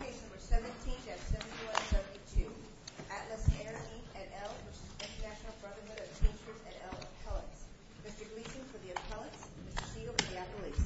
Teachers, et al., Appellates. Mr. Gleason for the Appellates, Mr. Shield for the Appellates.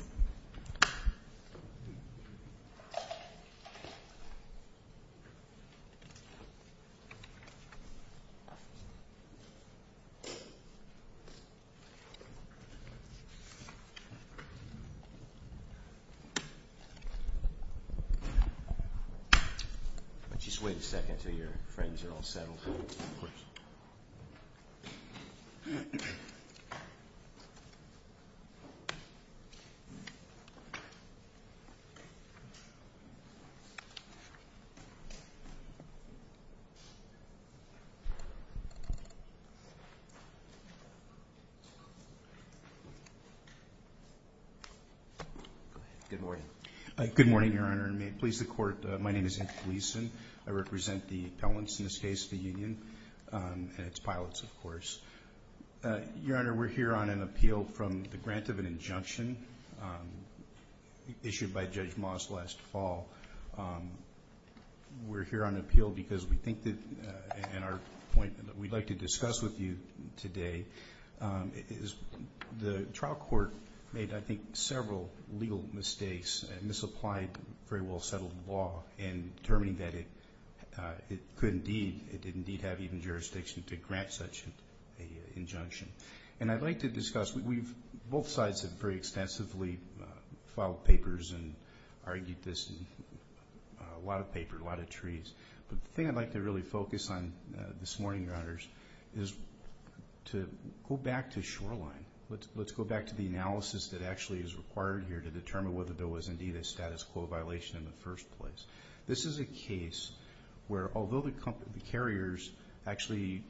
Just wait a second until your friends are all settled. Good morning. Good morning, Your Honor, and may it please the Court, my name is Anthony Gleason. I represent the Appellants, in this case, the Union. And it's Pilots, of course. Your Honor, we're here on an appeal from the grant of an injunction issued by Judge Moss last fall. We're here on appeal because we think that, and our point that we'd like to discuss with you today, is the trial court made, I think, several legal mistakes and misapplied very well-settled law in determining that it could indeed, it did indeed have even jurisdiction to grant such an injunction. And I'd like to discuss, we've, both sides have very extensively filed papers and argued this in a lot of papers, a lot of trees. But the thing I'd like to really focus on this morning, Your Honors, is to go back to Shoreline. Let's go back to the analysis that actually is required here to determine whether there was indeed a status quo violation in the first place. This is a case where, although the carriers actually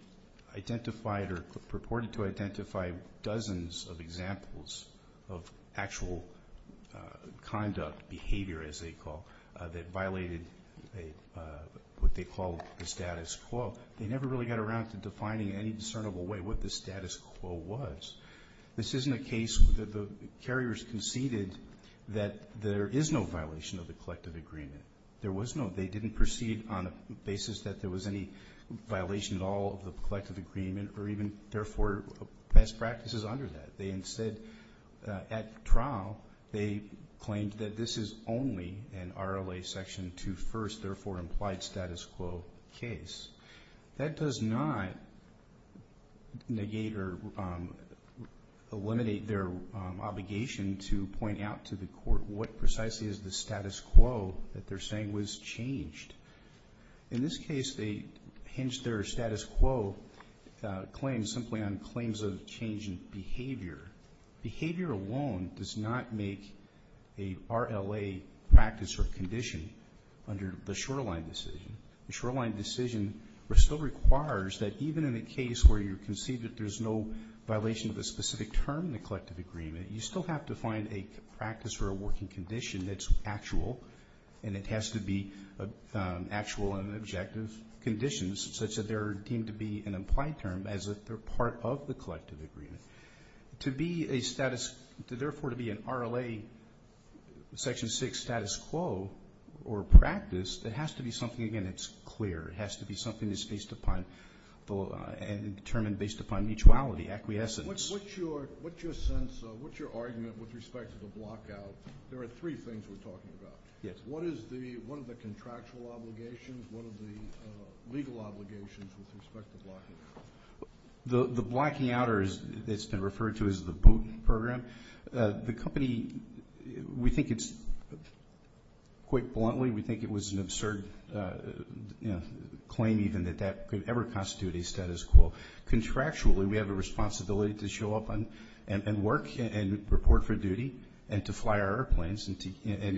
identified or purported to identify dozens of examples of actual conduct, behavior, as they call, that violated what they call the status quo, they never really got around to defining in any discernible way what the status quo was. This isn't a case where the carriers conceded that there is no violation of the collective agreement. There was no, they didn't proceed on the basis that there was any violation at all of the collective agreement or even, therefore, best practices under that. They instead, at trial, they claimed that this is only an RLA Section 21st, therefore, implied status quo case. That does not negate or eliminate their obligation to point out to the court what precisely is the status quo that they're saying was changed. In this case, they hinged their status quo claim simply on claims of change in behavior. Behavior alone does not make a RLA practice or condition under the Shoreline decision. The Shoreline decision still requires that even in a case where you concede that there's no violation of a specific term in the collective agreement, you still have to find a practice or a working condition that's actual, and it has to be actual and objective conditions, such that they're deemed to be an implied term as if they're part of the collective agreement. To be a status, therefore, to be an RLA Section 6 status quo or practice, it has to be something, again, that's clear. It has to be something that's based upon and determined based upon mutuality, acquiescence. What's your sense, what's your argument with respect to the blockout? There are three things we're talking about. Yes. What is the, what are the contractual obligations? What are the legal obligations with respect to blocking out? The blocking out that's been referred to as the boot program, the company, we think it's, quite bluntly, we think it was an absurd claim even that that could ever constitute a status quo. Contractually, we have a responsibility to show up and work and report for duty and to fly our airplanes and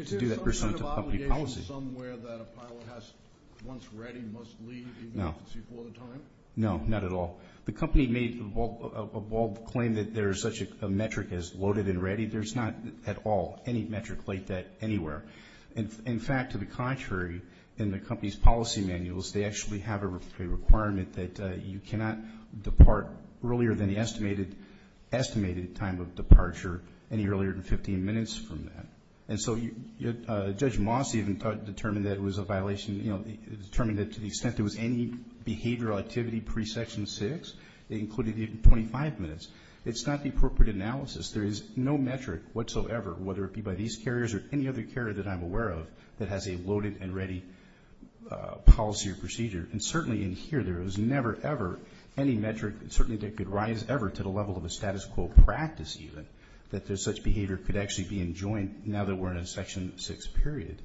to do that personal policy. Is there some sort of obligation somewhere that a pilot has, once ready, must leave even if it's before the time? No, not at all. The company made a bold claim that there is such a metric as loaded and ready. There's not at all any metric like that anywhere. In fact, to the contrary, in the company's policy manuals, they actually have a requirement that you cannot depart earlier than the estimated time of departure, any earlier than 15 minutes from that. And so Judge Moss even determined that it was a violation, determined that to the extent there was any behavioral activity pre-Section 6, they included even 25 minutes. It's not the appropriate analysis. There is no metric whatsoever, whether it be by these carriers or any other carrier that I'm aware of, that has a loaded and ready policy or procedure. And certainly in here, there is never ever any metric, certainly that could rise ever to the level of a status quo practice even, that there's such behavior could actually be enjoined now that we're in a Section 6 period.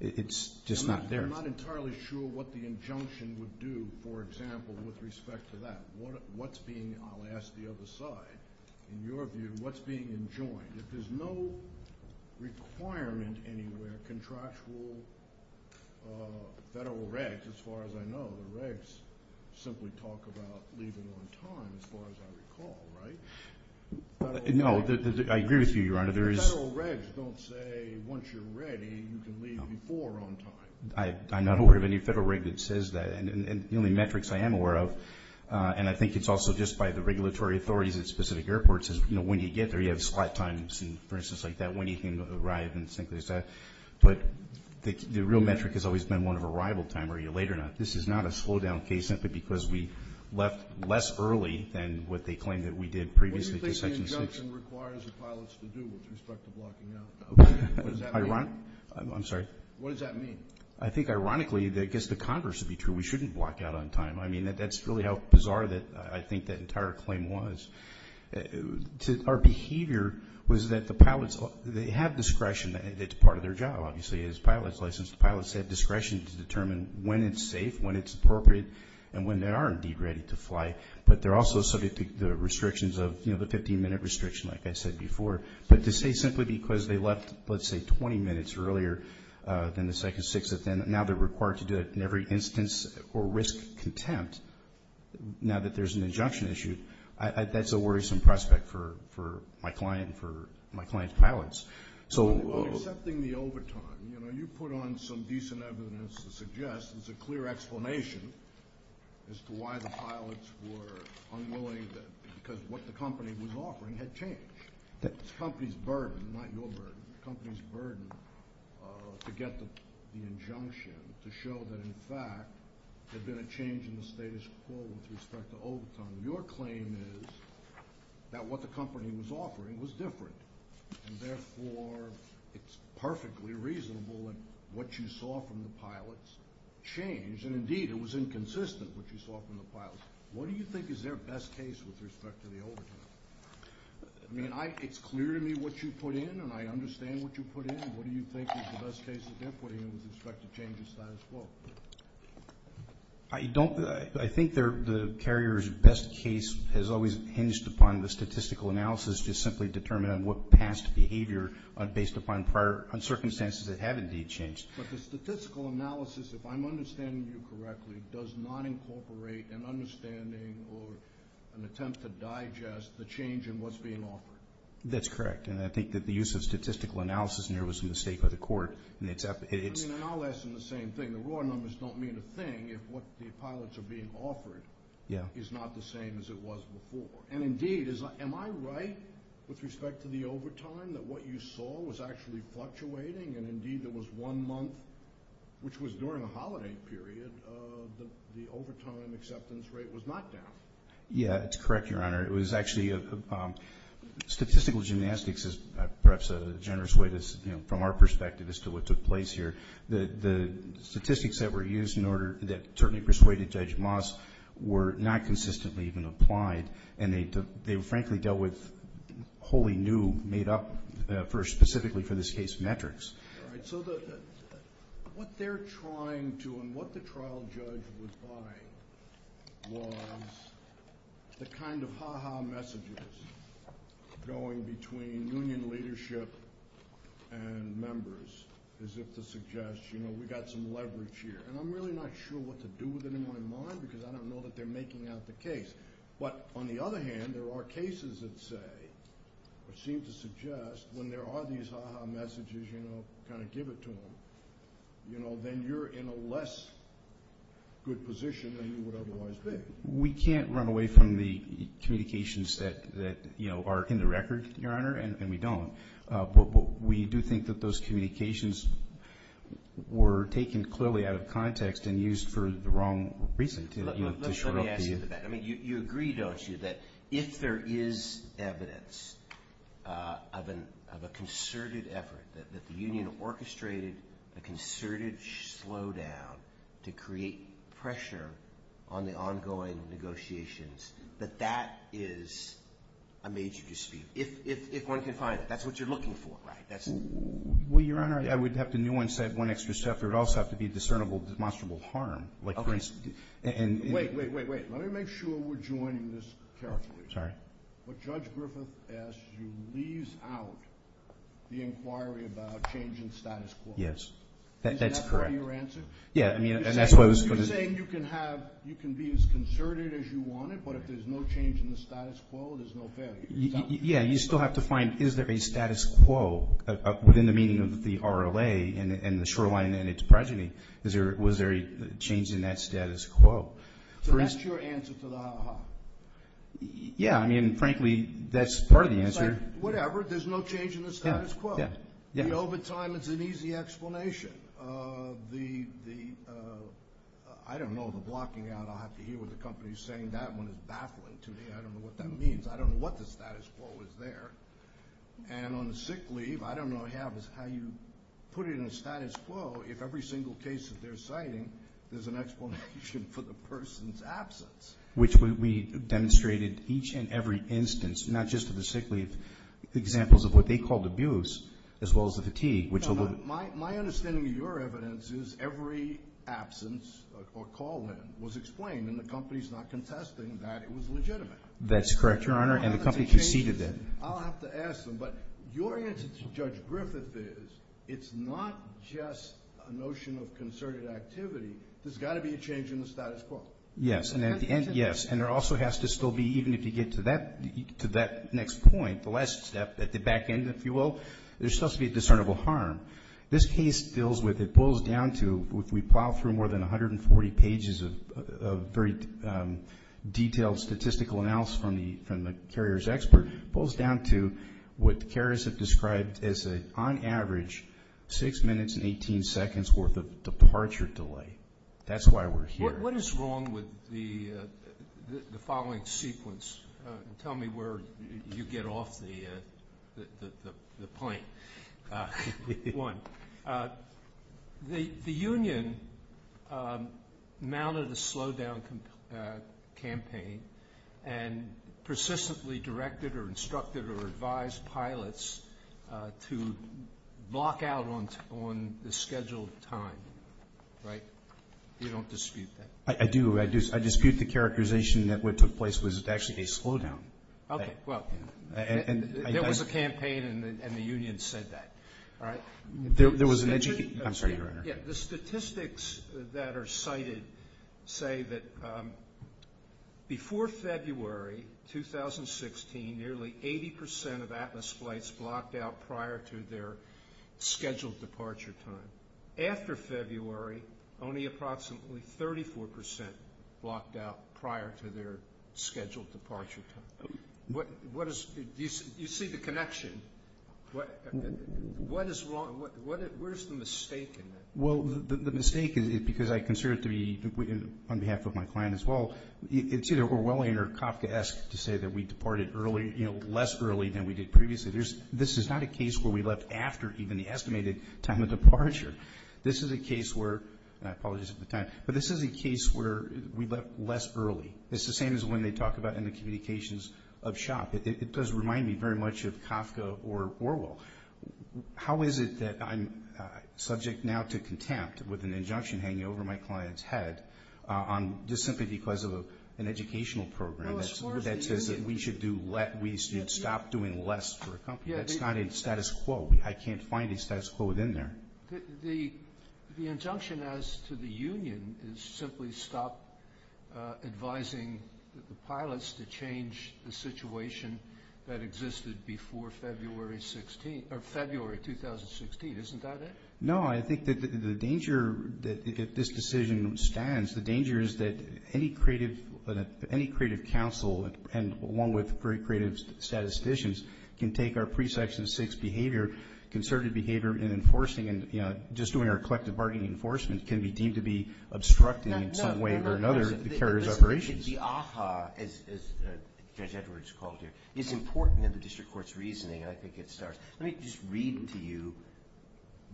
It's just not there. I'm not entirely sure what the injunction would do, for example, with respect to that. I'll ask the other side. In your view, what's being enjoined? If there's no requirement anywhere, contractual federal regs, as far as I know, the regs simply talk about leaving on time, as far as I recall, right? No, I agree with you, Your Honor. Federal regs don't say once you're ready, you can leave before on time. I'm not aware of any federal reg that says that. And the only metrics I am aware of, and I think it's also just by the regulatory authorities at specific airports, is, you know, when you get there, you have slot times, for instance, like that, when you can arrive and things like that. But the real metric has always been one of arrival time, are you late or not. This is not a slowdown case simply because we left less early than what they claim that we did previously to Section 6. What do you think the injunction requires the pilots to do with respect to blocking out? What does that mean? I'm sorry? What does that mean? I think, ironically, I guess the Congress would be true. We shouldn't block out on time. I mean, that's really how bizarre I think that entire claim was. Our behavior was that the pilots, they have discretion. It's part of their job, obviously, as pilots, licensed pilots, to have discretion to determine when it's safe, when it's appropriate, and when they are indeed ready to fly. But they're also subject to the restrictions of, you know, the 15-minute restriction, like I said before. But to say simply because they left, let's say, 20 minutes earlier than the Section 6, that now they're required to do it in every instance or risk contempt, now that there's an injunction issued, that's a worrisome prospect for my client and for my client's pilots. Well, accepting the overtime, you know, you put on some decent evidence to suggest there's a clear explanation as to why the pilots were unwilling, because what the company was offering had changed. The company's burden, not your burden, the company's burden to get the injunction to show that, in fact, there had been a change in the status quo with respect to overtime. Your claim is that what the company was offering was different, and therefore it's perfectly reasonable that what you saw from the pilots changed, and indeed it was inconsistent what you saw from the pilots. What do you think is their best case with respect to the overtime? I mean, it's clear to me what you put in, and I understand what you put in. What do you think is the best case that they're putting in with respect to changing status quo? I think the carrier's best case has always hinged upon the statistical analysis to simply determine what past behavior based upon circumstances that have indeed changed. But the statistical analysis, if I'm understanding you correctly, does not incorporate an understanding or an attempt to digest the change in what's being offered. That's correct, and I think that the use of statistical analysis in there was a mistake by the court. I mean, and I'll ask them the same thing. The raw numbers don't mean a thing if what the pilots are being offered is not the same as it was before. And indeed, am I right with respect to the overtime, that what you saw was actually fluctuating, and indeed there was one month, which was during a holiday period, the overtime acceptance rate was not down? Yeah, that's correct, Your Honor. It was actually statistical gymnastics is perhaps a generous way to, you know, from our perspective as to what took place here. The statistics that were used that certainly persuaded Judge Moss were not consistently even applied, and they frankly dealt with wholly new, made up specifically for this case, metrics. All right, so what they're trying to and what the trial judge was buying was the kind of ha-ha messages going between union leadership and members as if to suggest, you know, we've got some leverage here. And I'm really not sure what to do with it in my mind because I don't know that they're making out the case. But on the other hand, there are cases that say or seem to suggest when there are these ha-ha messages, you know, kind of give it to them, you know, then you're in a less good position than you would otherwise be. We can't run away from the communications that, you know, are in the record, Your Honor, and we don't. But we do think that those communications were taken clearly out of context and used for the wrong reason. Let me ask you that. I mean, you agree, don't you, that if there is evidence of a concerted effort, that the union orchestrated a concerted slowdown to create pressure on the ongoing negotiations, that that is a major dispute, if one can find it. That's what you're looking for, right? Well, Your Honor, I would have to nuance that one extra step. It would also have to be discernible, demonstrable harm. Wait, wait, wait, wait. Let me make sure we're joining this carefully. Sorry. What Judge Griffith asks you leaves out the inquiry about change in status quo. Yes. That's correct. Isn't that part of your answer? Yeah, I mean, and that's what I was going to say. You're saying you can be as concerted as you want it, but if there's no change in the status quo, there's no failure. Yeah, you still have to find, is there a status quo within the meaning of the RLA and the shoreline and its progeny? Was there a change in that status quo? So that's your answer to the ha-ha-ha. Yeah, I mean, frankly, that's part of the answer. Whatever, there's no change in the status quo. Yeah, yeah. Over time, it's an easy explanation. The, I don't know, the blocking out. I'll have to hear what the company is saying. That one is baffling to me. I don't know what that means. I don't know what the status quo is there. And on the sick leave, I don't know how you put it in a status quo if every single case that they're citing, there's an explanation for the person's absence. Which we demonstrated each and every instance, not just to the sick leave. Examples of what they called abuse as well as the fatigue. My understanding of your evidence is every absence or call in was explained, and the company's not contesting that it was legitimate. That's correct, Your Honor, and the company conceded that. I'll have to ask them, but your answer to Judge Griffith is it's not just a notion of concerted activity. There's got to be a change in the status quo. Yes, and there also has to still be, even if you get to that next point, the last step at the back end, if you will, there still has to be discernible harm. This case deals with, it pulls down to, if we plow through more than 140 pages of very detailed statistical analysis from the carrier's expert, it pulls down to what the carriers have described as on average 6 minutes and 18 seconds worth of departure delay. That's why we're here. What is wrong with the following sequence? Tell me where you get off the point. One, the union mounted a slowdown campaign and persistently directed or instructed or advised pilots to block out on the scheduled time, right? You don't dispute that? I do. I dispute the characterization that what took place was actually a slowdown. Okay. Well, there was a campaign and the union said that, right? There was an education. I'm sorry, Your Honor. The statistics that are cited say that before February 2016, nearly 80 percent of Atlas flights blocked out prior to their scheduled departure time. After February, only approximately 34 percent blocked out prior to their scheduled departure time. Do you see the connection? What is wrong? Where's the mistake in that? Well, the mistake is because I consider it to be, on behalf of my client as well, it's either Orwellian or Kafkaesque to say that we departed less early than we did previously. This is not a case where we left after even the estimated time of departure. This is a case where we left less early. It's the same as when they talk about in the communications of shop. It does remind me very much of Kafka or Orwell. How is it that I'm subject now to contempt with an injunction hanging over my client's head just simply because of an educational program that says that we should stop doing less for a company? That's not a status quo. I can't find a status quo within there. The injunction as to the union is simply stop advising the pilots to change the situation that existed before February 2016, isn't that it? No, I think that the danger that this decision stands, the danger is that any creative counsel and one with very creative statisticians can take our pre-Section 6 behavior, concerted behavior in enforcing and just doing our collective bargaining enforcement can be deemed to be obstructing in some way or another the carrier's operations. The aha, as Judge Edwards called it, is important in the district court's reasoning, and I think it starts. Let me just read to you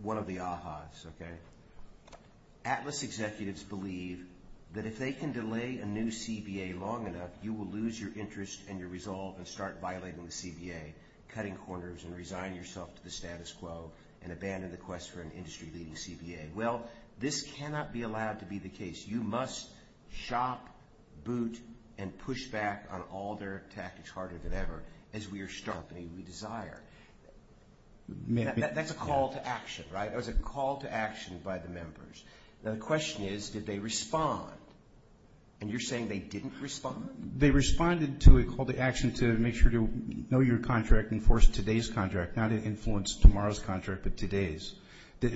one of the ahas. Atlas executives believe that if they can delay a new CBA long enough, you will lose your interest and your resolve and start violating the CBA, cutting corners and resigning yourself to the status quo and abandon the quest for an industry-leading CBA. Well, this cannot be allowed to be the case. You must shop, boot, and push back on all their tactics harder than ever as we are strengthening what we desire. That's a call to action, right? That was a call to action by the members. Now the question is, did they respond? And you're saying they didn't respond? They responded to a call to action to make sure to know your contract, enforce today's contract, not influence tomorrow's contract, but today's. We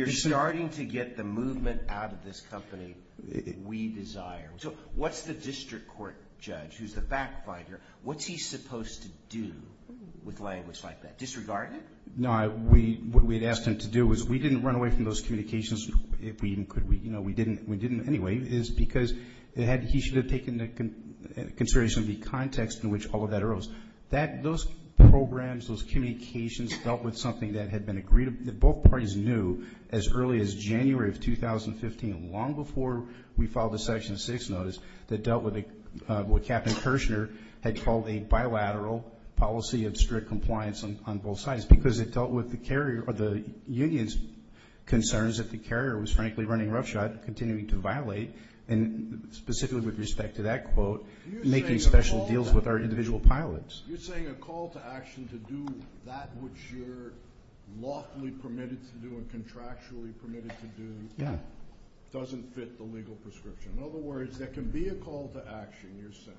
are starting to get the movement out of this company we desire. So what's the district court judge, who's the backfinder, what's he supposed to do with language like that? Disregard it? No, what we had asked him to do was we didn't run away from those communications. We didn't anyway because he should have taken the consideration of the context in which all of that arose. Those programs, those communications, dealt with something that had been agreed upon. Both parties knew as early as January of 2015, long before we filed the Section 6 notice, that dealt with what Captain Kirshner had called a bilateral policy of strict compliance on both sides because it dealt with the carrier or the union's concerns that the carrier was, frankly, running roughshod, continuing to violate, and specifically with respect to that quote, making special deals with our individual pilots. You're saying a call to action to do that which you're lawfully permitted to do and contractually permitted to do doesn't fit the legal prescription. In other words, there can be a call to action, you're saying,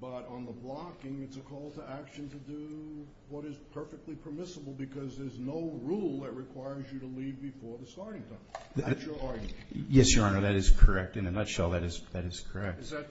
but on the blocking it's a call to action to do what is perfectly permissible because there's no rule that requires you to leave before the starting time. Is that your argument? Yes, Your Honor, that is correct. In a nutshell, that is correct. Is that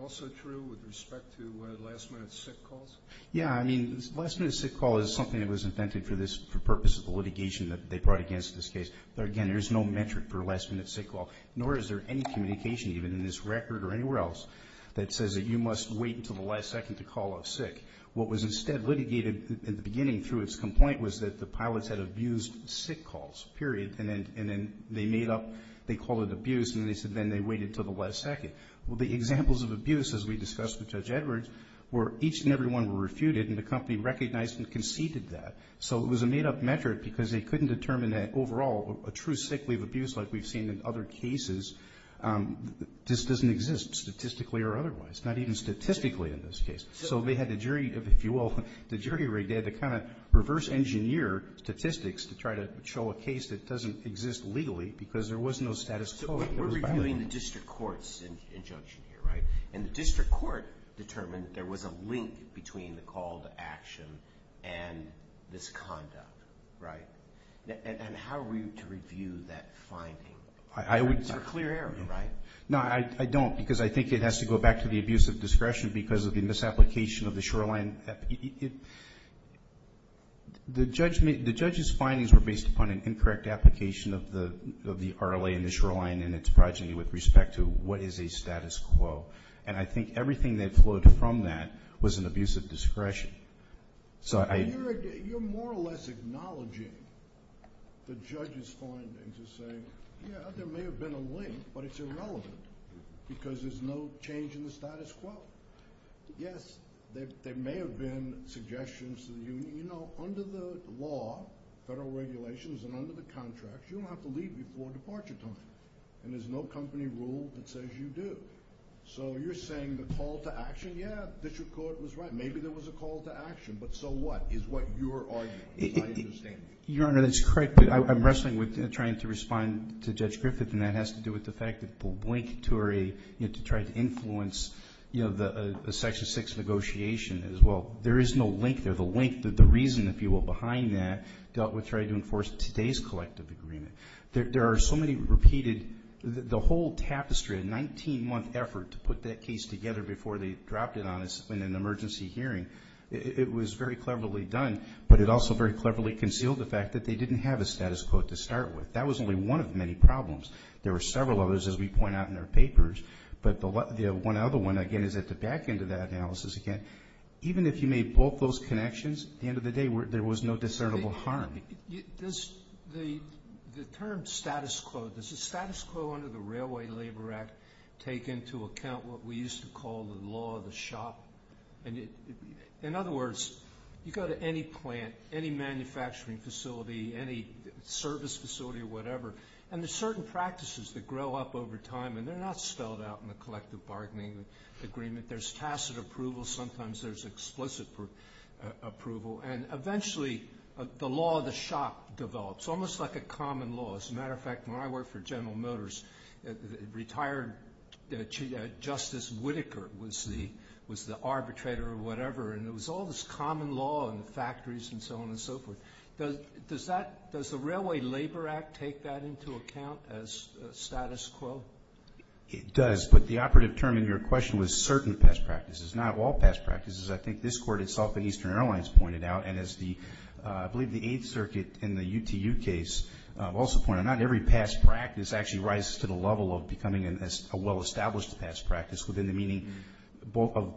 also true with respect to last-minute sick calls? Yeah. I mean, last-minute sick call is something that was invented for this purpose of the litigation that they brought against this case. Again, there's no metric for a last-minute sick call, nor is there any communication even in this record or anywhere else that says that you must wait until the last second to call off sick. What was instead litigated at the beginning through its complaint was that the pilots had abused sick calls, period, and then they made up, they called it abuse, and they said then they waited until the last second. Well, the examples of abuse, as we discussed with Judge Edwards, were each and every one were refuted, and the company recognized and conceded that. So it was a made-up metric because they couldn't determine that, overall, a true sick leave abuse like we've seen in other cases just doesn't exist, statistically or otherwise, not even statistically in this case. So they had the jury, if you will, the jury rig, they had to kind of reverse engineer statistics to try to show a case that doesn't exist legally because there was no status quo. So we're reviewing the district court's injunction here, right? And the district court determined there was a link between the call to action and this conduct, right? And how are we to review that finding? It's a clear error, right? No, I don't because I think it has to go back to the abuse of discretion because of the misapplication of the shoreline. The judge's findings were based upon an incorrect application of the RLA and the shoreline and its progeny with respect to what is a status quo, and I think everything that flowed from that was an abuse of discretion. You're more or less acknowledging the judge's findings as saying, yeah, there may have been a link, but it's irrelevant because there's no change in the status quo. Yes, there may have been suggestions to the union. You know, under the law, federal regulations, and under the contract, you don't have to leave before departure time, and there's no company rule that says you do. So you're saying the call to action, yeah, the district court was right. Maybe there was a call to action, but so what is what you're arguing. I understand. Your Honor, that's correct, but I'm wrestling with trying to respond to Judge Griffith, and that has to do with the fact that Blink, Ture, they tried to influence the Section 6 negotiation as well. There is no link there. The link, the reason, if you will, behind that, dealt with trying to enforce today's collective agreement. There are so many repeated, the whole tapestry, a 19-month effort to put that case together before they dropped it on us in an emergency hearing, it was very cleverly done, but it also very cleverly concealed the fact that they didn't have a status quo to start with. That was only one of many problems. There were several others, as we point out in our papers, but the one other one, again, is at the back end of that analysis again. Even if you made both those connections, at the end of the day, there was no discernible harm. The term status quo, does the status quo under the Railway Labor Act take into account what we used to call the law of the shop? In other words, you go to any plant, any manufacturing facility, any service facility or whatever, and there's certain practices that grow up over time, and they're not spelled out in the collective bargaining agreement. There's tacit approval. Sometimes there's explicit approval, and eventually the law of the shop develops, almost like a common law. As a matter of fact, when I worked for General Motors, retired Justice Whitaker was the arbitrator or whatever, and there was all this common law in the factories and so on and so forth. Does the Railway Labor Act take that into account as status quo? It does, but the operative term in your question was certain past practices, not all past practices. I think this Court itself in Eastern Airlines pointed out, and as I believe the Eighth Circuit in the UTU case also pointed out, not every past practice actually rises to the level of becoming a well-established past practice within the meaning,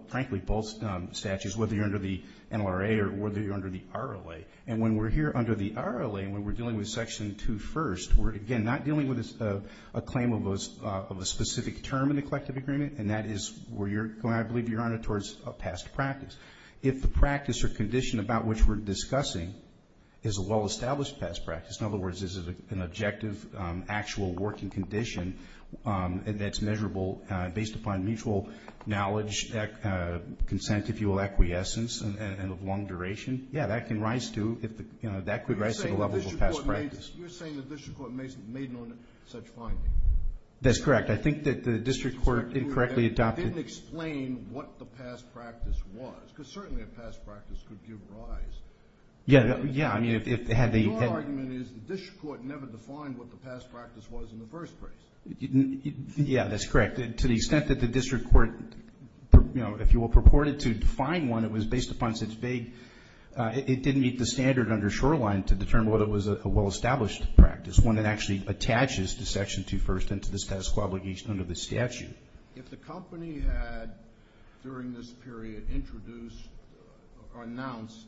frankly, both statutes, whether you're under the NLRA or whether you're under the RLA. And when we're here under the RLA and when we're dealing with Section 2 first, we're, again, not dealing with a claim of a specific term in the collective agreement, and that is where you're going, I believe, Your Honor, towards a past practice. If the practice or condition about which we're discussing is a well-established past practice, in other words, is it an objective, actual working condition that's measurable based upon mutual knowledge, consent, if you will, that could rise to the level of a past practice. You're saying the district court made no such finding. That's correct. I think that the district court incorrectly adopted. Didn't explain what the past practice was, because certainly a past practice could give rise. Yeah. Your argument is the district court never defined what the past practice was in the first place. Yeah, that's correct. To the extent that the district court, if you will, purported to define one, it was based upon such vague, it didn't meet the standard under Shoreline to determine whether it was a well-established practice, one that actually attaches to Section 2 first and to the status quo obligation under the statute. If the company had, during this period, introduced or announced,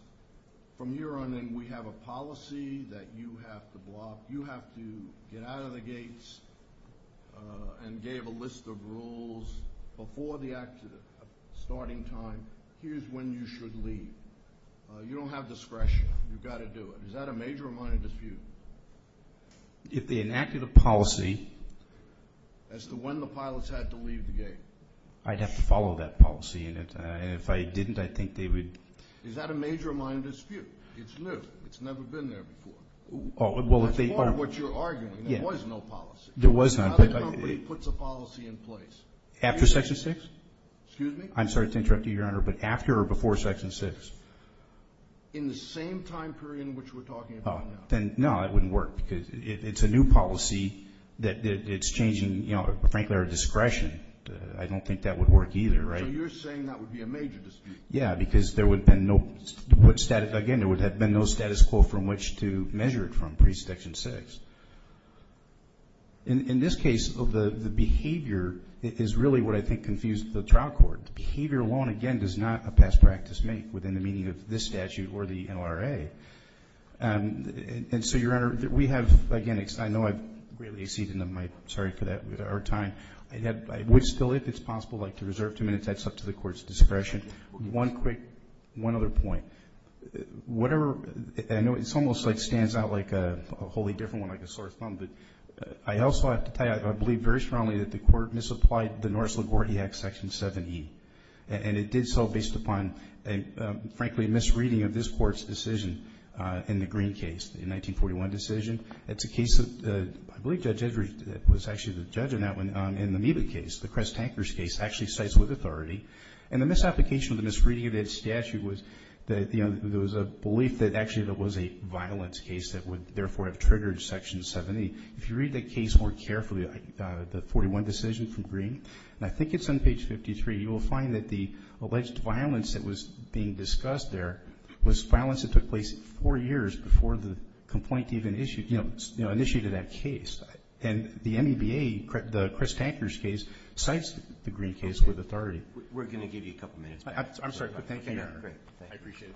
from here on in we have a policy that you have to block, you have to get out of the gates and gave a list of rules before the starting time. Here's when you should leave. You don't have discretion. You've got to do it. Is that a major or minor dispute? If they enacted a policy. As to when the pilots had to leave the gate. I'd have to follow that policy, and if I didn't, I think they would. Is that a major or minor dispute? It's new. It's never been there before. That's part of what you're arguing. There was no policy. There was not. How the company puts a policy in place. After Section 6? Excuse me? I'm sorry to interrupt you, Your Honor, but after or before Section 6? In the same time period in which we're talking about now. No, it wouldn't work because it's a new policy that it's changing, frankly, our discretion. I don't think that would work either. So you're saying that would be a major dispute? Yeah, because there would have been no status quo from which to measure it from pre-Section 6. In this case, the behavior is really what I think confused the trial court. The behavior alone, again, does not a past practice make within the meaning of this statute or the NLRA. And so, Your Honor, we have, again, I know I've really exceeded my time. I would still, if it's possible, like to reserve two minutes. That's up to the Court's discretion. One quick, one other point. Whatever, I know it's almost like stands out like a wholly different one, like a sore thumb, but I also have to tell you I believe very strongly that the Court misapplied the Norris-LaGuardia Act, Section 7E. And it did so based upon, frankly, a misreading of this Court's decision in the Green case, the 1941 decision. It's a case of, I believe Judge Edgerich was actually the judge in that one, in the Meeba case, the Crest-Tankers case, actually cites with authority. And the misapplication of the misreading of that statute was that, you know, there was a belief that actually there was a violence case that would therefore have triggered Section 7E. If you read the case more carefully, the 1941 decision from Green, and I think it's on page 53, you will find that the alleged violence that was being discussed there was violence that took place four years before the complainant even issued, you know, initiated that case. And the Meeba, the Crest-Tankers case, cites the Green case with authority. We're going to give you a couple minutes back. I'm sorry. Thank you, Your Honor. I appreciate it.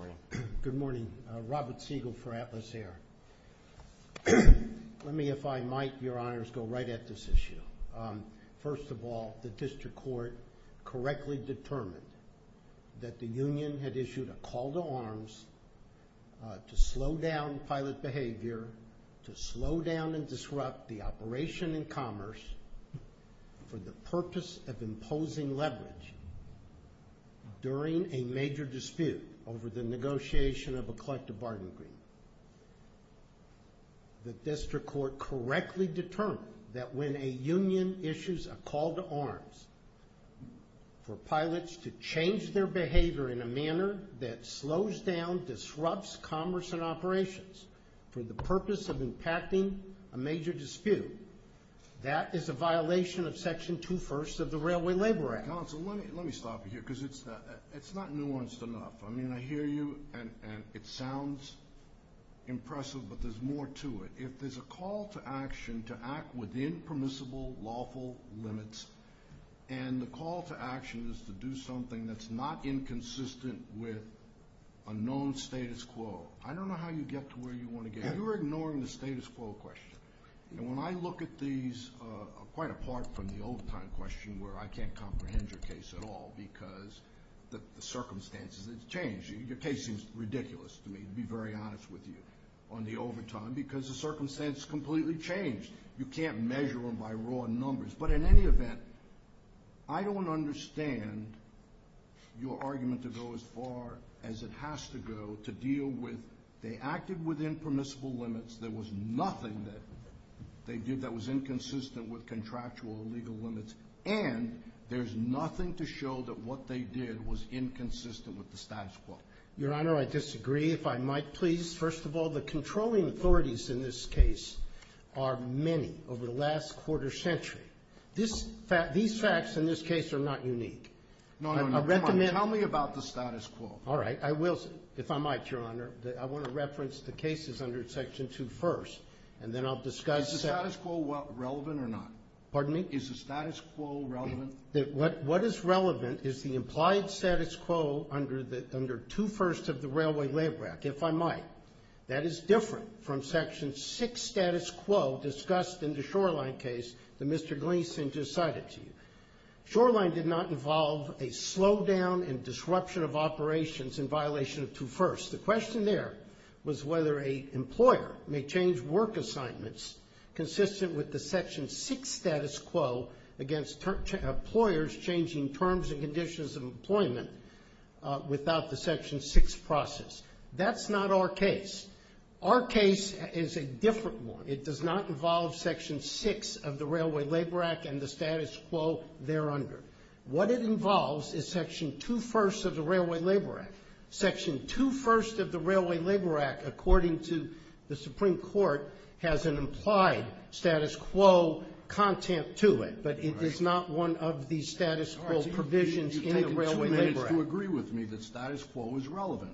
Good morning. Good morning. Robert Siegel for Atlas Air. Let me, if I might, Your Honors, go right at this issue. First of all, the district court correctly determined that the union had issued a call to arms to slow down pilot behavior, to slow down and disrupt the operation in commerce for the purpose of imposing leverage during a major dispute over the negotiation of a collective bargaining agreement. The district court correctly determined that when a union issues a call to arms for pilots to change their behavior in a manner that slows down, disrupts commerce and operations for the purpose of impacting a major dispute, that is a violation of Section 2 First of the Railway Labor Act. Counsel, let me stop you here because it's not nuanced enough. I mean, I hear you, and it sounds impressive, but there's more to it. If there's a call to action to act within permissible lawful limits, and the call to action is to do something that's not inconsistent with a known status quo, I don't know how you get to where you want to get. You're ignoring the status quo question. And when I look at these, quite apart from the old-time question where I can't comprehend your case at all because the circumstances have changed. Your case seems ridiculous to me, to be very honest with you, on the overtime, because the circumstances completely changed. You can't measure them by raw numbers. But in any event, I don't understand your argument to go as far as it has to go to deal with they acted within permissible limits, there was nothing that they did that was inconsistent with contractual or legal limits, and there's nothing to show that what they did was inconsistent with the status quo. Your Honor, I disagree, if I might, please. First of all, the controlling authorities in this case are many over the last quarter century. These facts in this case are not unique. No, no, no. Tell me about the status quo. All right. I will, if I might, Your Honor. I want to reference the cases under Section 2 first, and then I'll discuss the second. Is the status quo relevant or not? Pardon me? Is the status quo relevant? What is relevant is the implied status quo under 2 first of the Railway Labor Act, if I might. That is different from Section 6 status quo discussed in the Shoreline case that Mr. Gleason just cited to you. Shoreline did not involve a slowdown and disruption of operations in violation of 2 first. The question there was whether an employer may change work assignments consistent with the Section 6 status quo against employers changing terms and conditions of employment without the Section 6 process. That's not our case. Our case is a different one. It does not involve Section 6 of the Railway Labor Act and the status quo there under. What it involves is Section 2 first of the Railway Labor Act. Section 2 first of the Railway Labor Act, according to the Supreme Court, has an implied status quo content to it, but it is not one of the status quo provisions in the Railway Labor Act. You've taken two minutes to agree with me that status quo is relevant.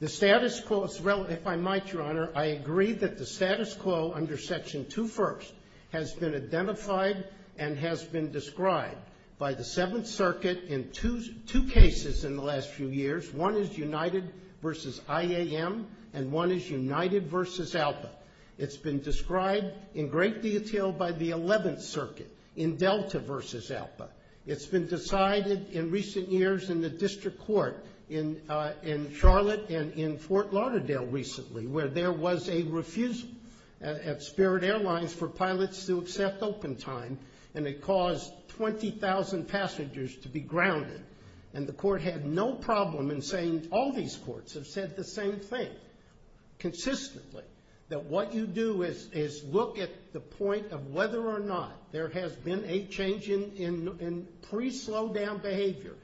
The status quo is relevant. If I might, Your Honor, I agree that the status quo under Section 2 first has been identified and has been described by the Seventh Circuit in two cases in the last few years. One is United v. IAM, and one is United v. ALPA. It's been described in great detail by the Eleventh Circuit in Delta v. ALPA. It's been decided in recent years in the District Court in Charlotte and in Fort Lauderdale recently where there was a refusal at Spirit Airlines for pilots to accept open time, and it caused 20,000 passengers to be grounded. And the court had no problem in saying all these courts have said the same thing consistently, that what you do is look at the point of whether or not there has been a change in pre-slowdown behavior,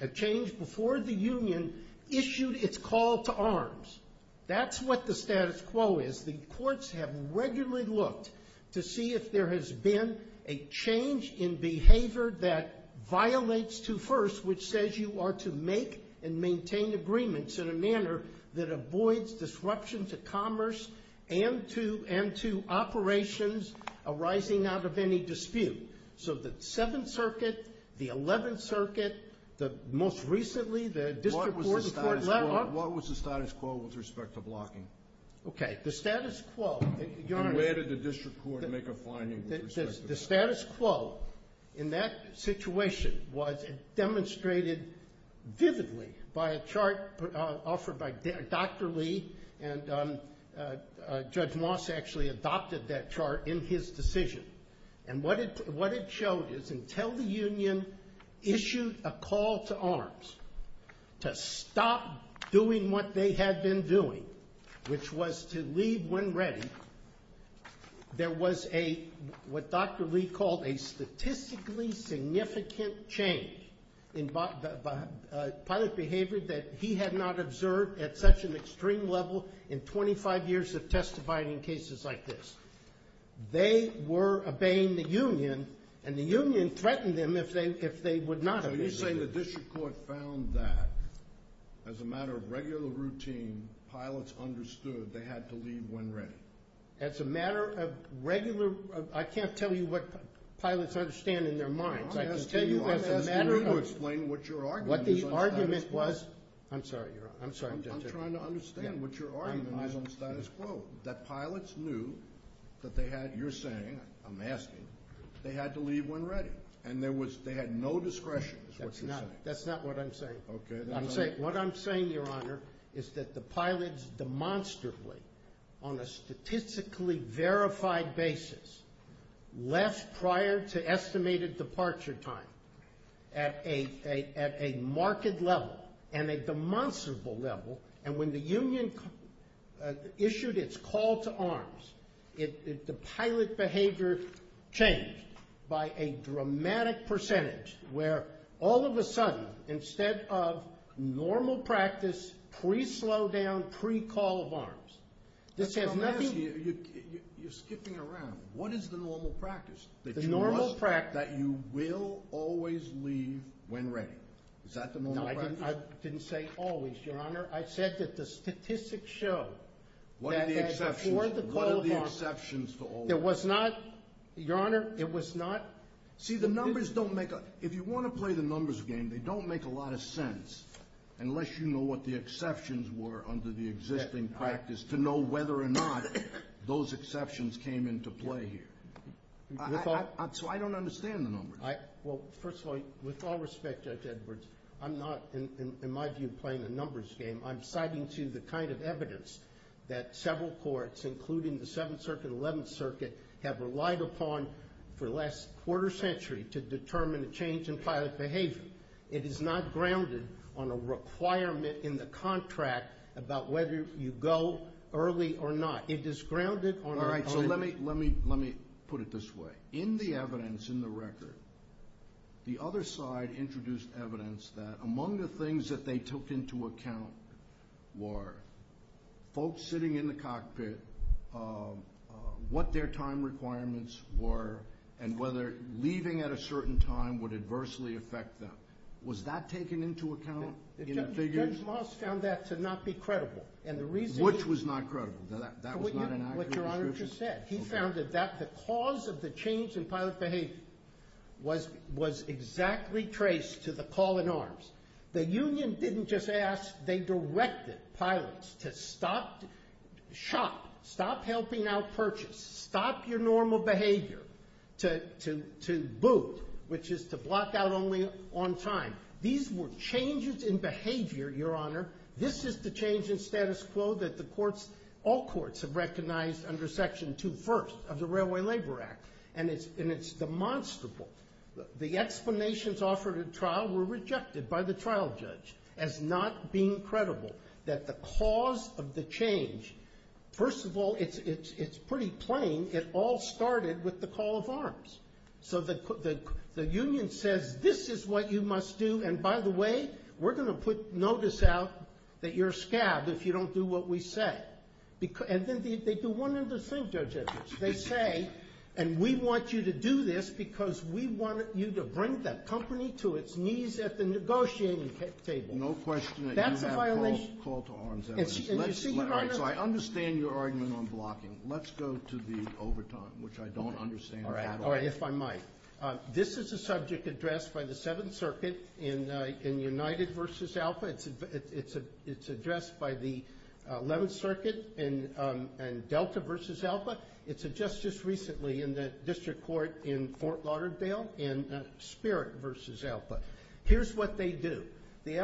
a change before the union issued its call to arms. That's what the status quo is. The courts have regularly looked to see if there has been a change in behavior that violates 2 first, which says you are to make and maintain agreements in a manner that avoids disruption to commerce and to operations arising out of any dispute. So the Seventh Circuit, the Eleventh Circuit, most recently the District Court in Fort Lauderdale. What was the status quo with respect to blocking? Okay, the status quo. And where did the District Court make a finding with respect to that? The status quo in that situation was demonstrated vividly by a chart offered by Dr. Lee, and Judge Moss actually adopted that chart in his decision. And what it showed is until the union issued a call to arms to stop doing what they had been doing, which was to leave when ready, there was what Dr. Lee called a statistically significant change in pilot behavior that he had not observed at such an extreme level in 25 years of testifying in cases like this. They were obeying the union, and the union threatened them if they would not obey. So you're saying the District Court found that as a matter of regular routine, pilots understood they had to leave when ready. As a matter of regular – I can't tell you what pilots understand in their minds. I can tell you as a matter of – I'm asking you to explain what your argument is on status quo. What the argument was – I'm sorry, Your Honor. I'm sorry. I'm trying to understand what your argument is on status quo. That pilots knew that they had – you're saying, I'm asking – they had to leave when ready, and they had no discretion is what you're saying. That's not what I'm saying. Okay. What I'm saying, Your Honor, is that the pilots demonstrably, on a statistically verified basis, left prior to estimated departure time at a marked level and a demonstrable level, and when the union issued its call to arms, the pilot behavior changed by a dramatic percentage, where all of a sudden, instead of normal practice, pre-slowdown, pre-call of arms, this has nothing – That's what I'm asking you. You're skipping around. What is the normal practice? The normal practice – That you will always leave when ready. Is that the normal practice? No, I didn't say always, Your Honor. I said that the statistics show that before the call of arms – What are the exceptions to always? It was not – Your Honor, it was not – See, the numbers don't make – if you want to play the numbers game, they don't make a lot of sense, unless you know what the exceptions were under the existing practice, to know whether or not those exceptions came into play here. So I don't understand the numbers. Well, first of all, with all respect, Judge Edwards, I'm not, in my view, playing the numbers game. I'm citing to you the kind of evidence that several courts, including the Seventh Circuit, Eleventh Circuit, have relied upon for the last quarter century to determine a change in pilot behavior. It is not grounded on a requirement in the contract about whether you go early or not. It is grounded on a – So let me put it this way. In the evidence in the record, the other side introduced evidence that among the things that they took into account were folks sitting in the cockpit, what their time requirements were, and whether leaving at a certain time would adversely affect them. Was that taken into account in the figures? Judge Moss found that to not be credible, and the reason – Which was not credible? That was not an accurate description? Your Honor, he found that the cause of the change in pilot behavior was exactly traced to the call in arms. The union didn't just ask. They directed pilots to stop shopping, stop helping out purchase, stop your normal behavior, to boot, which is to block out only on time. These were changes in behavior, Your Honor. This is the change in status quo that the courts – all courts have recognized under Section 2.1 of the Railway Labor Act, and it's demonstrable. The explanations offered at trial were rejected by the trial judge as not being credible, that the cause of the change – first of all, it's pretty plain. It all started with the call of arms. So the union says, this is what you must do, and by the way, we're going to put notice out that you're scabbed if you don't do what we say. And then they do one other thing, Judge Edwards. They say, and we want you to do this because we want you to bring the company to its knees at the negotiating table. No question that you have called to arms. So I understand your argument on blocking. Let's go to the overtime, which I don't understand at all. All right. If I might. This is a subject addressed by the Seventh Circuit in United v. Alpha. It's addressed by the Eleventh Circuit in Delta v. Alpha. It's addressed just recently in the district court in Fort Lauderdale in Spirit v. Alpha. Here's what they do. The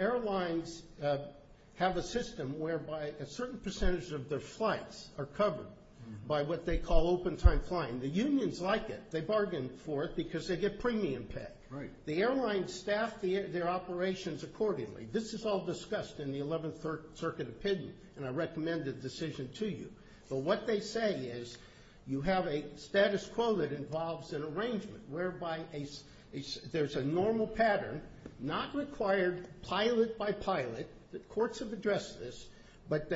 airlines have a system whereby a certain percentage of their flights are covered by what they call open time flying. The unions like it. They bargain for it because they get premium pay. The airlines staff their operations accordingly. This is all discussed in the Eleventh Circuit opinion, and I recommend the decision to you. But what they say is you have a status quo that involves an arrangement whereby there's a normal pattern, not required pilot by pilot. The courts have addressed this, but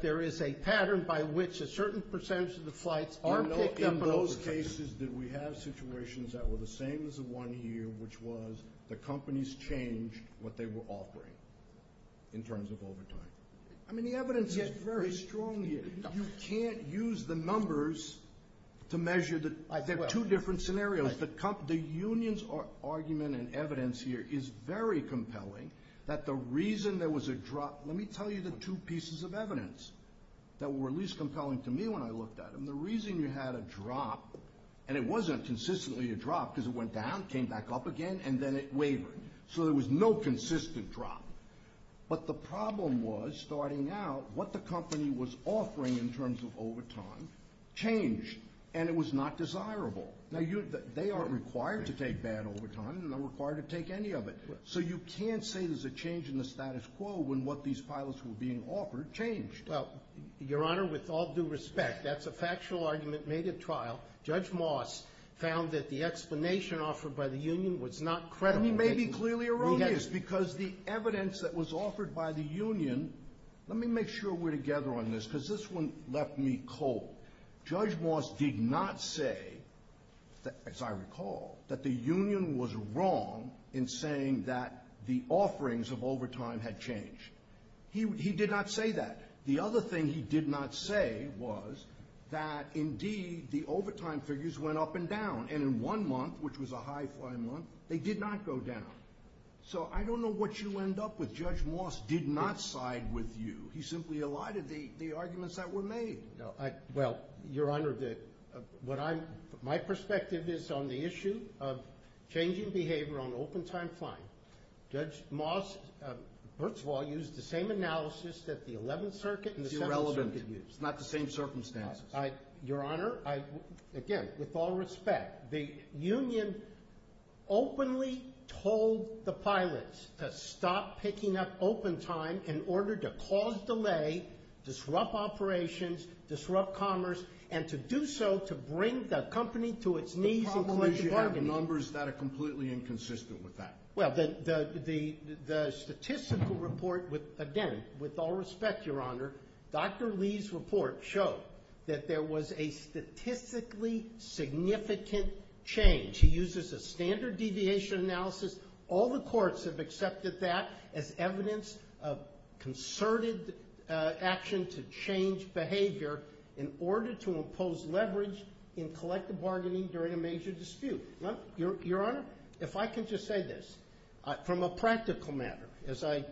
there is a pattern by which a certain percentage of the flights are picked up. In those cases, did we have situations that were the same as the one here, which was the companies changed what they were offering in terms of overtime? I mean, the evidence is very strong here. You can't use the numbers to measure the two different scenarios. The unions' argument and evidence here is very compelling that the reason there was a drop. Let me tell you the two pieces of evidence that were at least compelling to me when I looked at them. The reason you had a drop, and it wasn't consistently a drop because it went down, came back up again, and then it wavered. So there was no consistent drop. But the problem was, starting out, what the company was offering in terms of overtime changed, and it was not desirable. Now, they aren't required to take bad overtime. They're not required to take any of it. So you can't say there's a change in the status quo when what these pilots were being offered changed. Well, Your Honor, with all due respect, that's a factual argument made at trial. Judge Moss found that the explanation offered by the union was not credible. He may be clearly erroneous because the evidence that was offered by the union – let me make sure we're together on this because this one left me cold. Judge Moss did not say, as I recall, that the union was wrong in saying that the offerings of overtime had changed. He did not say that. The other thing he did not say was that, indeed, the overtime figures went up and down. And in one month, which was a high-flying month, they did not go down. So I don't know what you end up with. Judge Moss did not side with you. He simply allotted the arguments that were made. Well, Your Honor, my perspective is on the issue of changing behavior on open-time flying. Judge Moss, first of all, used the same analysis that the 11th Circuit and the 7th Circuit used. It's irrelevant. It's not the same circumstances. Your Honor, again, with all respect, the union openly told the pilots to stop picking up open time in order to cause delay, disrupt operations, disrupt commerce, and to do so to bring the company to its knees and collect the bargaining. The problem is you have numbers that are completely inconsistent with that. Well, the statistical report, again, with all respect, Your Honor, Dr. Lee's report showed that there was a statistically significant change. He uses a standard deviation analysis. All the courts have accepted that as evidence of concerted action to change behavior in order to impose leverage in collective bargaining during a major dispute. Your Honor, if I can just say this from a practical matter as I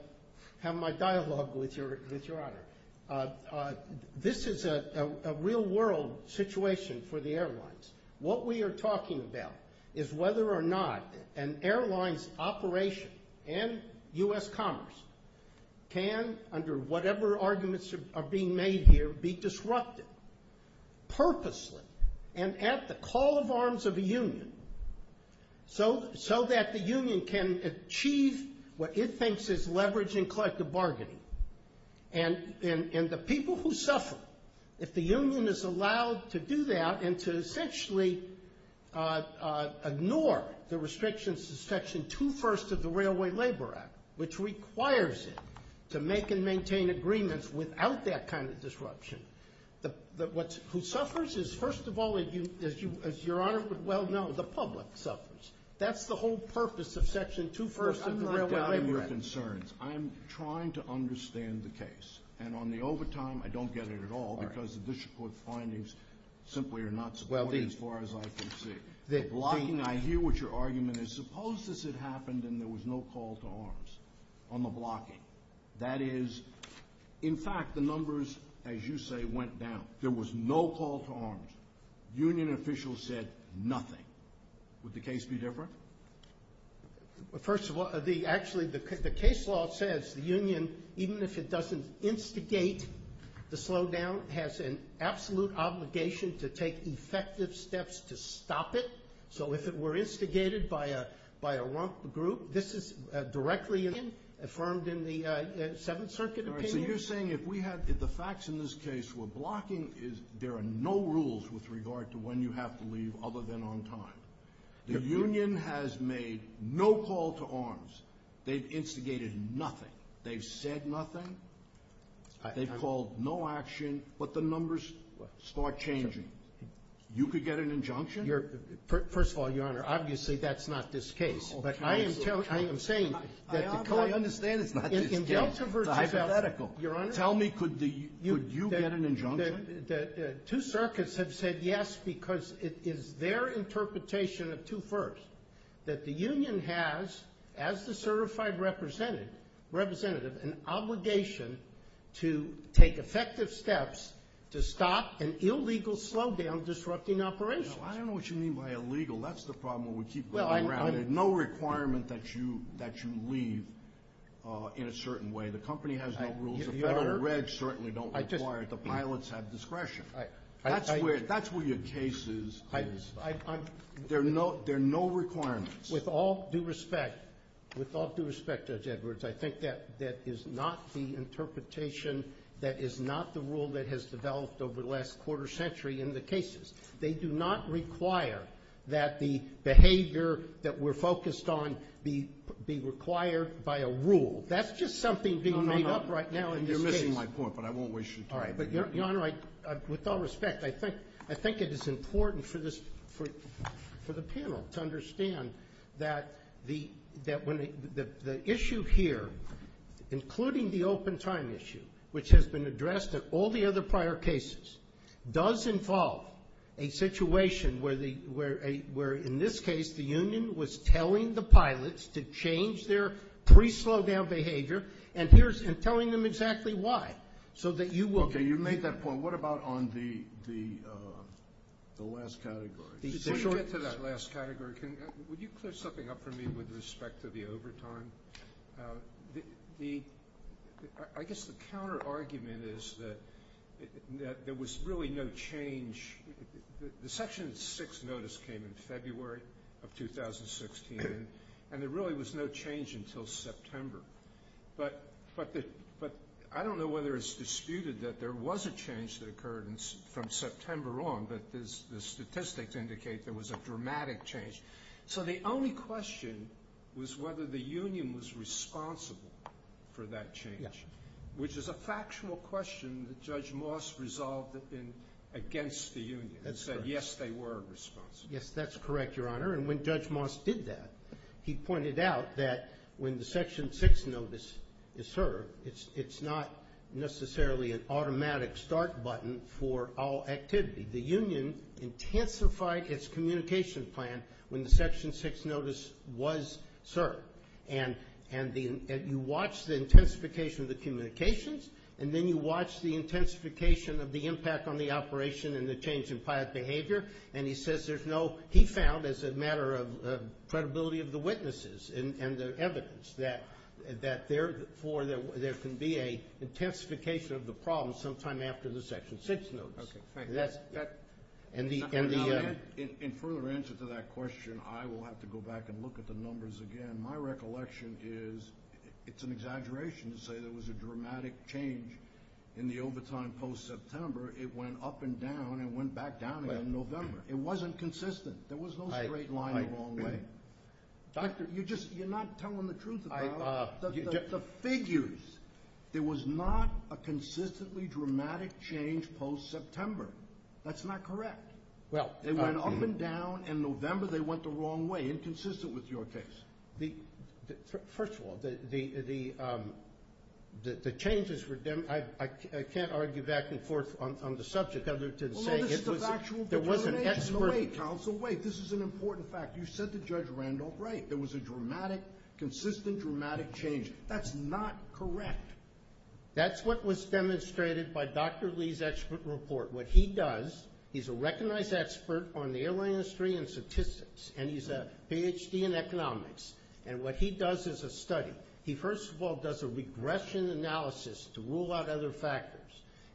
have my dialogue with Your Honor. This is a real-world situation for the airlines. What we are talking about is whether or not an airline's operation and U.S. commerce can, under whatever arguments are being made here, be disrupted purposely and at the call of arms of a union so that the union can achieve what it thinks is leveraging collective bargaining. And the people who suffer, if the union is allowed to do that and to essentially ignore the restrictions of Section 2-1st of the Railway Labor Act, which requires it to make and maintain agreements without that kind of disruption, who suffers is, first of all, as Your Honor would well know, the public suffers. That's the whole purpose of Section 2-1st of the Railway Labor Act. I'm trying to understand the case. And on the overtime, I don't get it at all because the district court findings simply are not supported as far as I can see. The blocking, I hear what your argument is. Suppose this had happened and there was no call to arms on the blocking. That is, in fact, the numbers, as you say, went down. There was no call to arms. Union officials said nothing. Would the case be different? First of all, actually, the case law says the union, even if it doesn't instigate the slowdown, has an absolute obligation to take effective steps to stop it. So if it were instigated by a group, this is directly affirmed in the Seventh Circuit opinion. So you're saying if the facts in this case were blocking, there are no rules with regard to when you have to leave other than on time. The union has made no call to arms. They've instigated nothing. They've said nothing. They've called no action. But the numbers start changing. You could get an injunction? First of all, Your Honor, obviously that's not this case. But I am saying that the court — I understand it's not this case. It's hypothetical. Your Honor — Tell me, could you get an injunction? Two circuits have said yes because it is their interpretation of two firsts, that the union has, as the certified representative, an obligation to take effective steps to stop an illegal slowdown disrupting operations. I don't know what you mean by illegal. That's the problem when we keep going around. I have no requirement that you leave in a certain way. The company has no rules. The Federal Reg certainly don't require it. But the pilots have discretion. That's where your case is. There are no requirements. With all due respect, Judge Edwards, I think that is not the interpretation, that is not the rule that has developed over the last quarter century in the cases. They do not require that the behavior that we're focused on be required by a rule. That's just something being made up right now in this case. Your Honor, with all respect, I think it is important for the panel to understand that the issue here, including the open time issue, which has been addressed in all the other prior cases, does involve a situation where, in this case, the union was telling the pilots to change their pre-slowdown behavior and telling them exactly why. Okay, you made that point. What about on the last category? Before you get to that last category, would you clear something up for me with respect to the overtime? I guess the counterargument is that there was really no change. The Section 6 notice came in February of 2016, and there really was no change until September. But I don't know whether it's disputed that there was a change that occurred from September on, but the statistics indicate there was a dramatic change. So the only question was whether the union was responsible for that change, which is a factual question that Judge Moss resolved against the union and said, yes, they were responsible. Yes, that's correct, Your Honor. And when Judge Moss did that, he pointed out that when the Section 6 notice is served, it's not necessarily an automatic start button for all activity. The union intensified its communication plan when the Section 6 notice was served. And you watch the intensification of the communications, and then you watch the intensification of the impact on the operation and the change in pilot behavior. And he says there's no – he found, as a matter of credibility of the witnesses and the evidence, that there can be an intensification of the problem sometime after the Section 6 notice. In further answer to that question, I will have to go back and look at the numbers again. My recollection is it's an exaggeration to say there was a dramatic change in the overtime post-September. It went up and down and went back down again in November. It wasn't consistent. There was no straight line the wrong way. Doctor, you're just – you're not telling the truth about the figures. There was not a consistently dramatic change post-September. That's not correct. Well – It went up and down in November. They went the wrong way, inconsistent with your case. First of all, the changes were – I can't argue back and forth on the subject other than saying it was – Well, no, this is a factual determination. There was an expert – Wait, counsel, wait. This is an important fact. You said to Judge Randolph, right, there was a dramatic, consistent, dramatic change. That's not correct. That's what was demonstrated by Dr. Lee's expert report. What he does – he's a recognized expert on the airline industry and statistics, and he's a Ph.D. in economics. And what he does is a study. He, first of all, does a regression analysis to rule out other factors.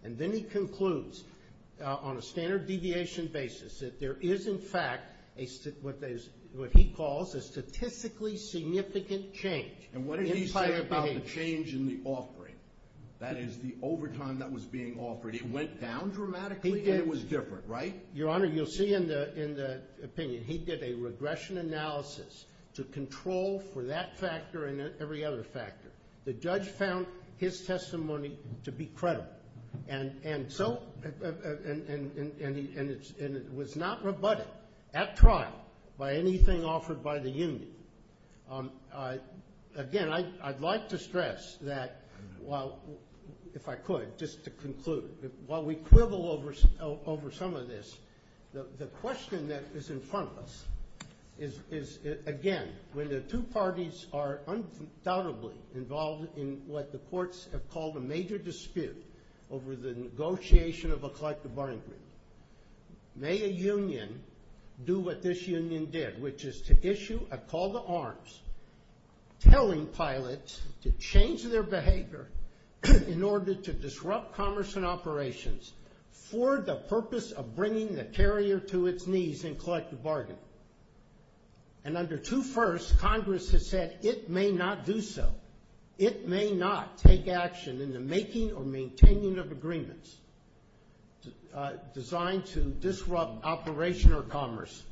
And then he concludes on a standard deviation basis that there is, in fact, what he calls a statistically significant change in pilot behavior. And what did he say about the change in the offering? That is, the overtime that was being offered, it went down dramatically and it was different, right? Your Honor, you'll see in the opinion, he did a regression analysis to control for that factor and every other factor. The judge found his testimony to be credible. And so – and it was not rebutted at trial by anything offered by the union. Again, I'd like to stress that while – if I could, just to conclude, while we quibble over some of this, the question that is in front of us is, again, when the two parties are undoubtedly involved in what the courts have called a major dispute over the negotiation of a collective bargaining agreement, may a union do what this union did, which is to issue a call to arms telling pilots to change their behavior in order to disrupt commerce and operations for the purpose of bringing the carrier to its knees in collective bargaining? And under two firsts, Congress has said it may not do so. It may not take action in the making or maintaining of agreements designed to disrupt operation or commerce.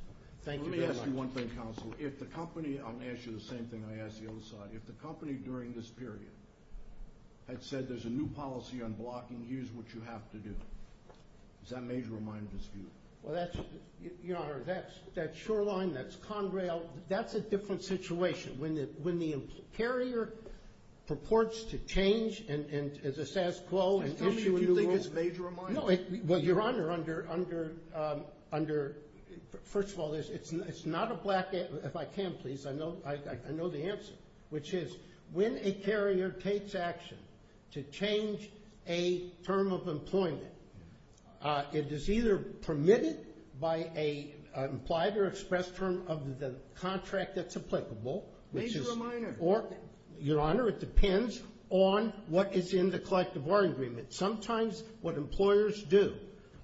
Thank you very much. Let me ask you one thing, counsel. If the company – I'm going to ask you the same thing I asked the other side. If the company during this period had said there's a new policy on blocking, here's what you have to do. Is that a major or minor dispute? Well, that's – Your Honor, that's Shoreline, that's Conrail. That's a different situation. When the carrier purports to change and as a status quo and issue a new rule – And tell me if you think it's major or minor? No, it – well, Your Honor, under – first of all, it's not a black – if I can, please, I know the answer, which is when a carrier takes action to change a term of employment, it is either permitted by an implied or expressed term of the contract that's applicable, which is – Major or minor? Your Honor, it depends on what is in the collective bargaining agreement. Sometimes what employers do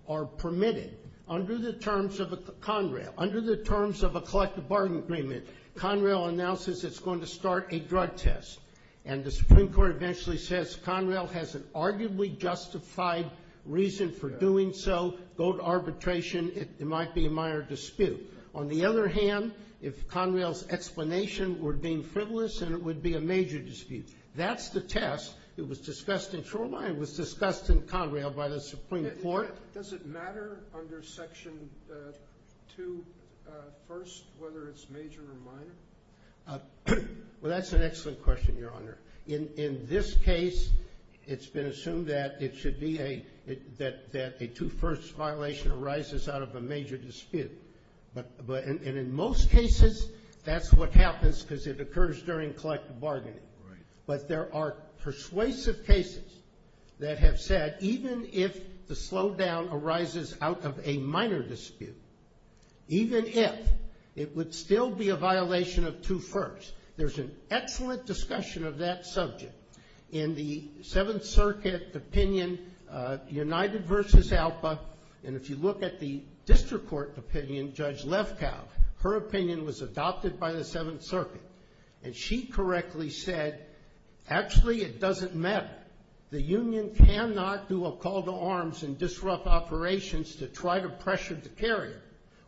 are permitted under the terms of Conrail, under the terms of a collective bargaining agreement. Conrail announces it's going to start a drug test, and the Supreme Court eventually says Conrail has an arguably justified reason for doing so. Go to arbitration. It might be a minor dispute. On the other hand, if Conrail's explanation were being frivolous, then it would be a major dispute. That's the test. It was discussed in Shoreline. It was discussed in Conrail by the Supreme Court. Does it matter under Section 2, first, whether it's major or minor? Well, that's an excellent question, Your Honor. In this case, it's been assumed that it should be a – that a two-firsts violation arises out of a major dispute. And in most cases, that's what happens because it occurs during collective bargaining. Right. But there are persuasive cases that have said even if the slowdown arises out of a minor dispute, even if it would still be a violation of two-firsts, there's an excellent discussion of that subject. In the Seventh Circuit opinion, United v. Alba, and if you look at the district court opinion, Judge Lefkow, her opinion was adopted by the Seventh Circuit. And she correctly said, actually, it doesn't matter. The union cannot do a call to arms and disrupt operations to try to pressure the carrier,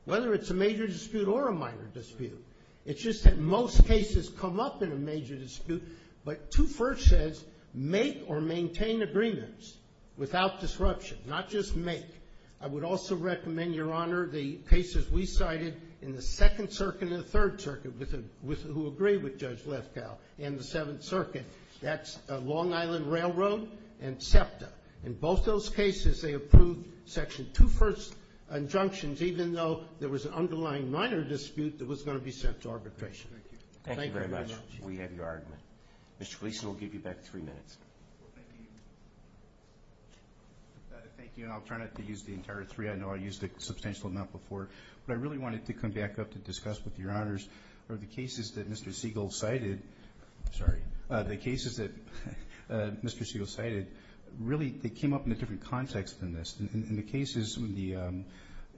whether it's a major dispute or a minor dispute. It's just that most cases come up in a major dispute. But two-firsts says make or maintain agreements without disruption, not just make. I would also recommend, Your Honor, the cases we cited in the Second Circuit and the Third Circuit, who agree with Judge Lefkow, and the Seventh Circuit. That's Long Island Railroad and SEPTA. In both those cases, they approved section two-firsts injunctions, even though there was an underlying minor dispute that was going to be sent to arbitration. Thank you very much. We have your argument. Mr. Gleason will give you back three minutes. Thank you, and I'll try not to use the entire three. I know I used it a substantial amount before. What I really wanted to come back up to discuss with Your Honors are the cases that Mr. Siegel cited. Sorry. The cases that Mr. Siegel cited, really, they came up in a different context than this. In the cases, the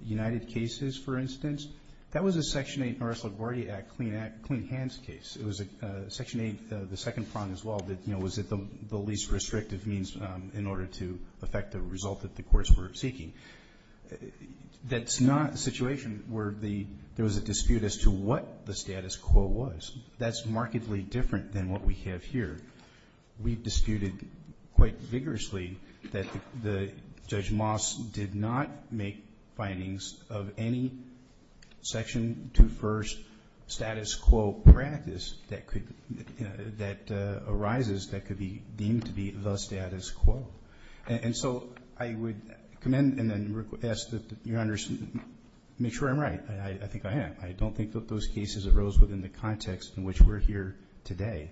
United cases, for instance, that was a Section 8 Norris LaGuardia Act clean hands case. It was a Section 8, the second prong as well, that, you know, was at the least restrictive means in order to affect the result that the courts were seeking. That's not a situation where there was a dispute as to what the status quo was. That's markedly different than what we have here. We've disputed quite vigorously that Judge Moss did not make findings of any section two-firsts status quo practice that arises that could be deemed to be the status quo. And so I would commend and then ask that Your Honors make sure I'm right. I think I am. I don't think that those cases arose within the context in which we're here today.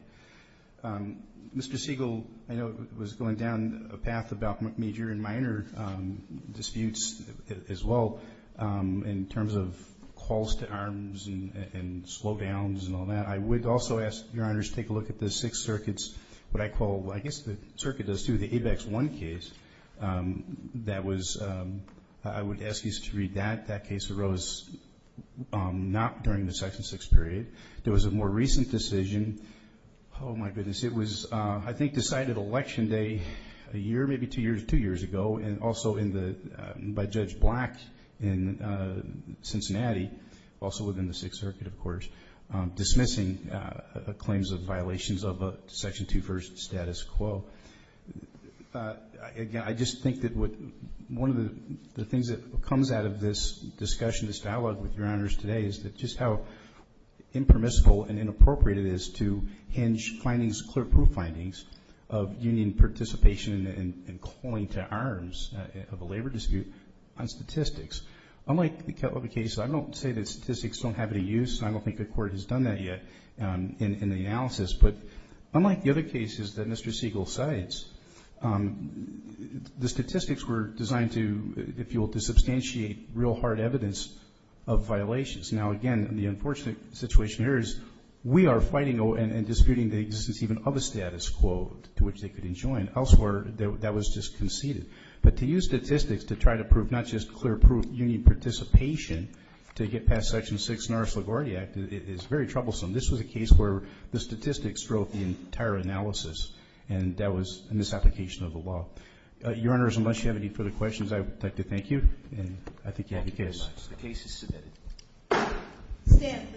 Mr. Siegel, I know, was going down a path about major and minor disputes as well in terms of calls to arms and slowdowns and all that. I would also ask Your Honors to take a look at the Sixth Circuit's, what I call, I guess the circuit does too, the ABEX I case. That was, I would ask you to read that. That case arose not during the Section 6 period. There was a more recent decision. Oh, my goodness. It was, I think, decided Election Day a year, maybe two years ago, and also by Judge Black in Cincinnati, also within the Sixth Circuit, of course, dismissing claims of violations of a section two-firsts status quo. Again, I just think that one of the things that comes out of this discussion, this dialogue with Your Honors today is just how impermissible and inappropriate it is to hinge findings, clear proof findings, of union participation and calling to arms of a labor dispute on statistics. Unlike the Kettleman case, I don't say that statistics don't have any use. I don't think the Court has done that yet in the analysis. But unlike the other cases that Mr. Siegel cites, the statistics were designed to, if you will, to substantiate real hard evidence of violations. Now, again, the unfortunate situation here is we are fighting and disputing the existence even of a status quo to which they could enjoin. Elsewhere, that was just conceded. But to use statistics to try to prove not just clear proof union participation to get past Section 6 in the Ars Laguardia Act is very troublesome. This was a case where the statistics drove the entire analysis, and that was a misapplication of the law. Your Honors, unless you have any further questions, I would like to thank you, and I think you have your case. The case is submitted.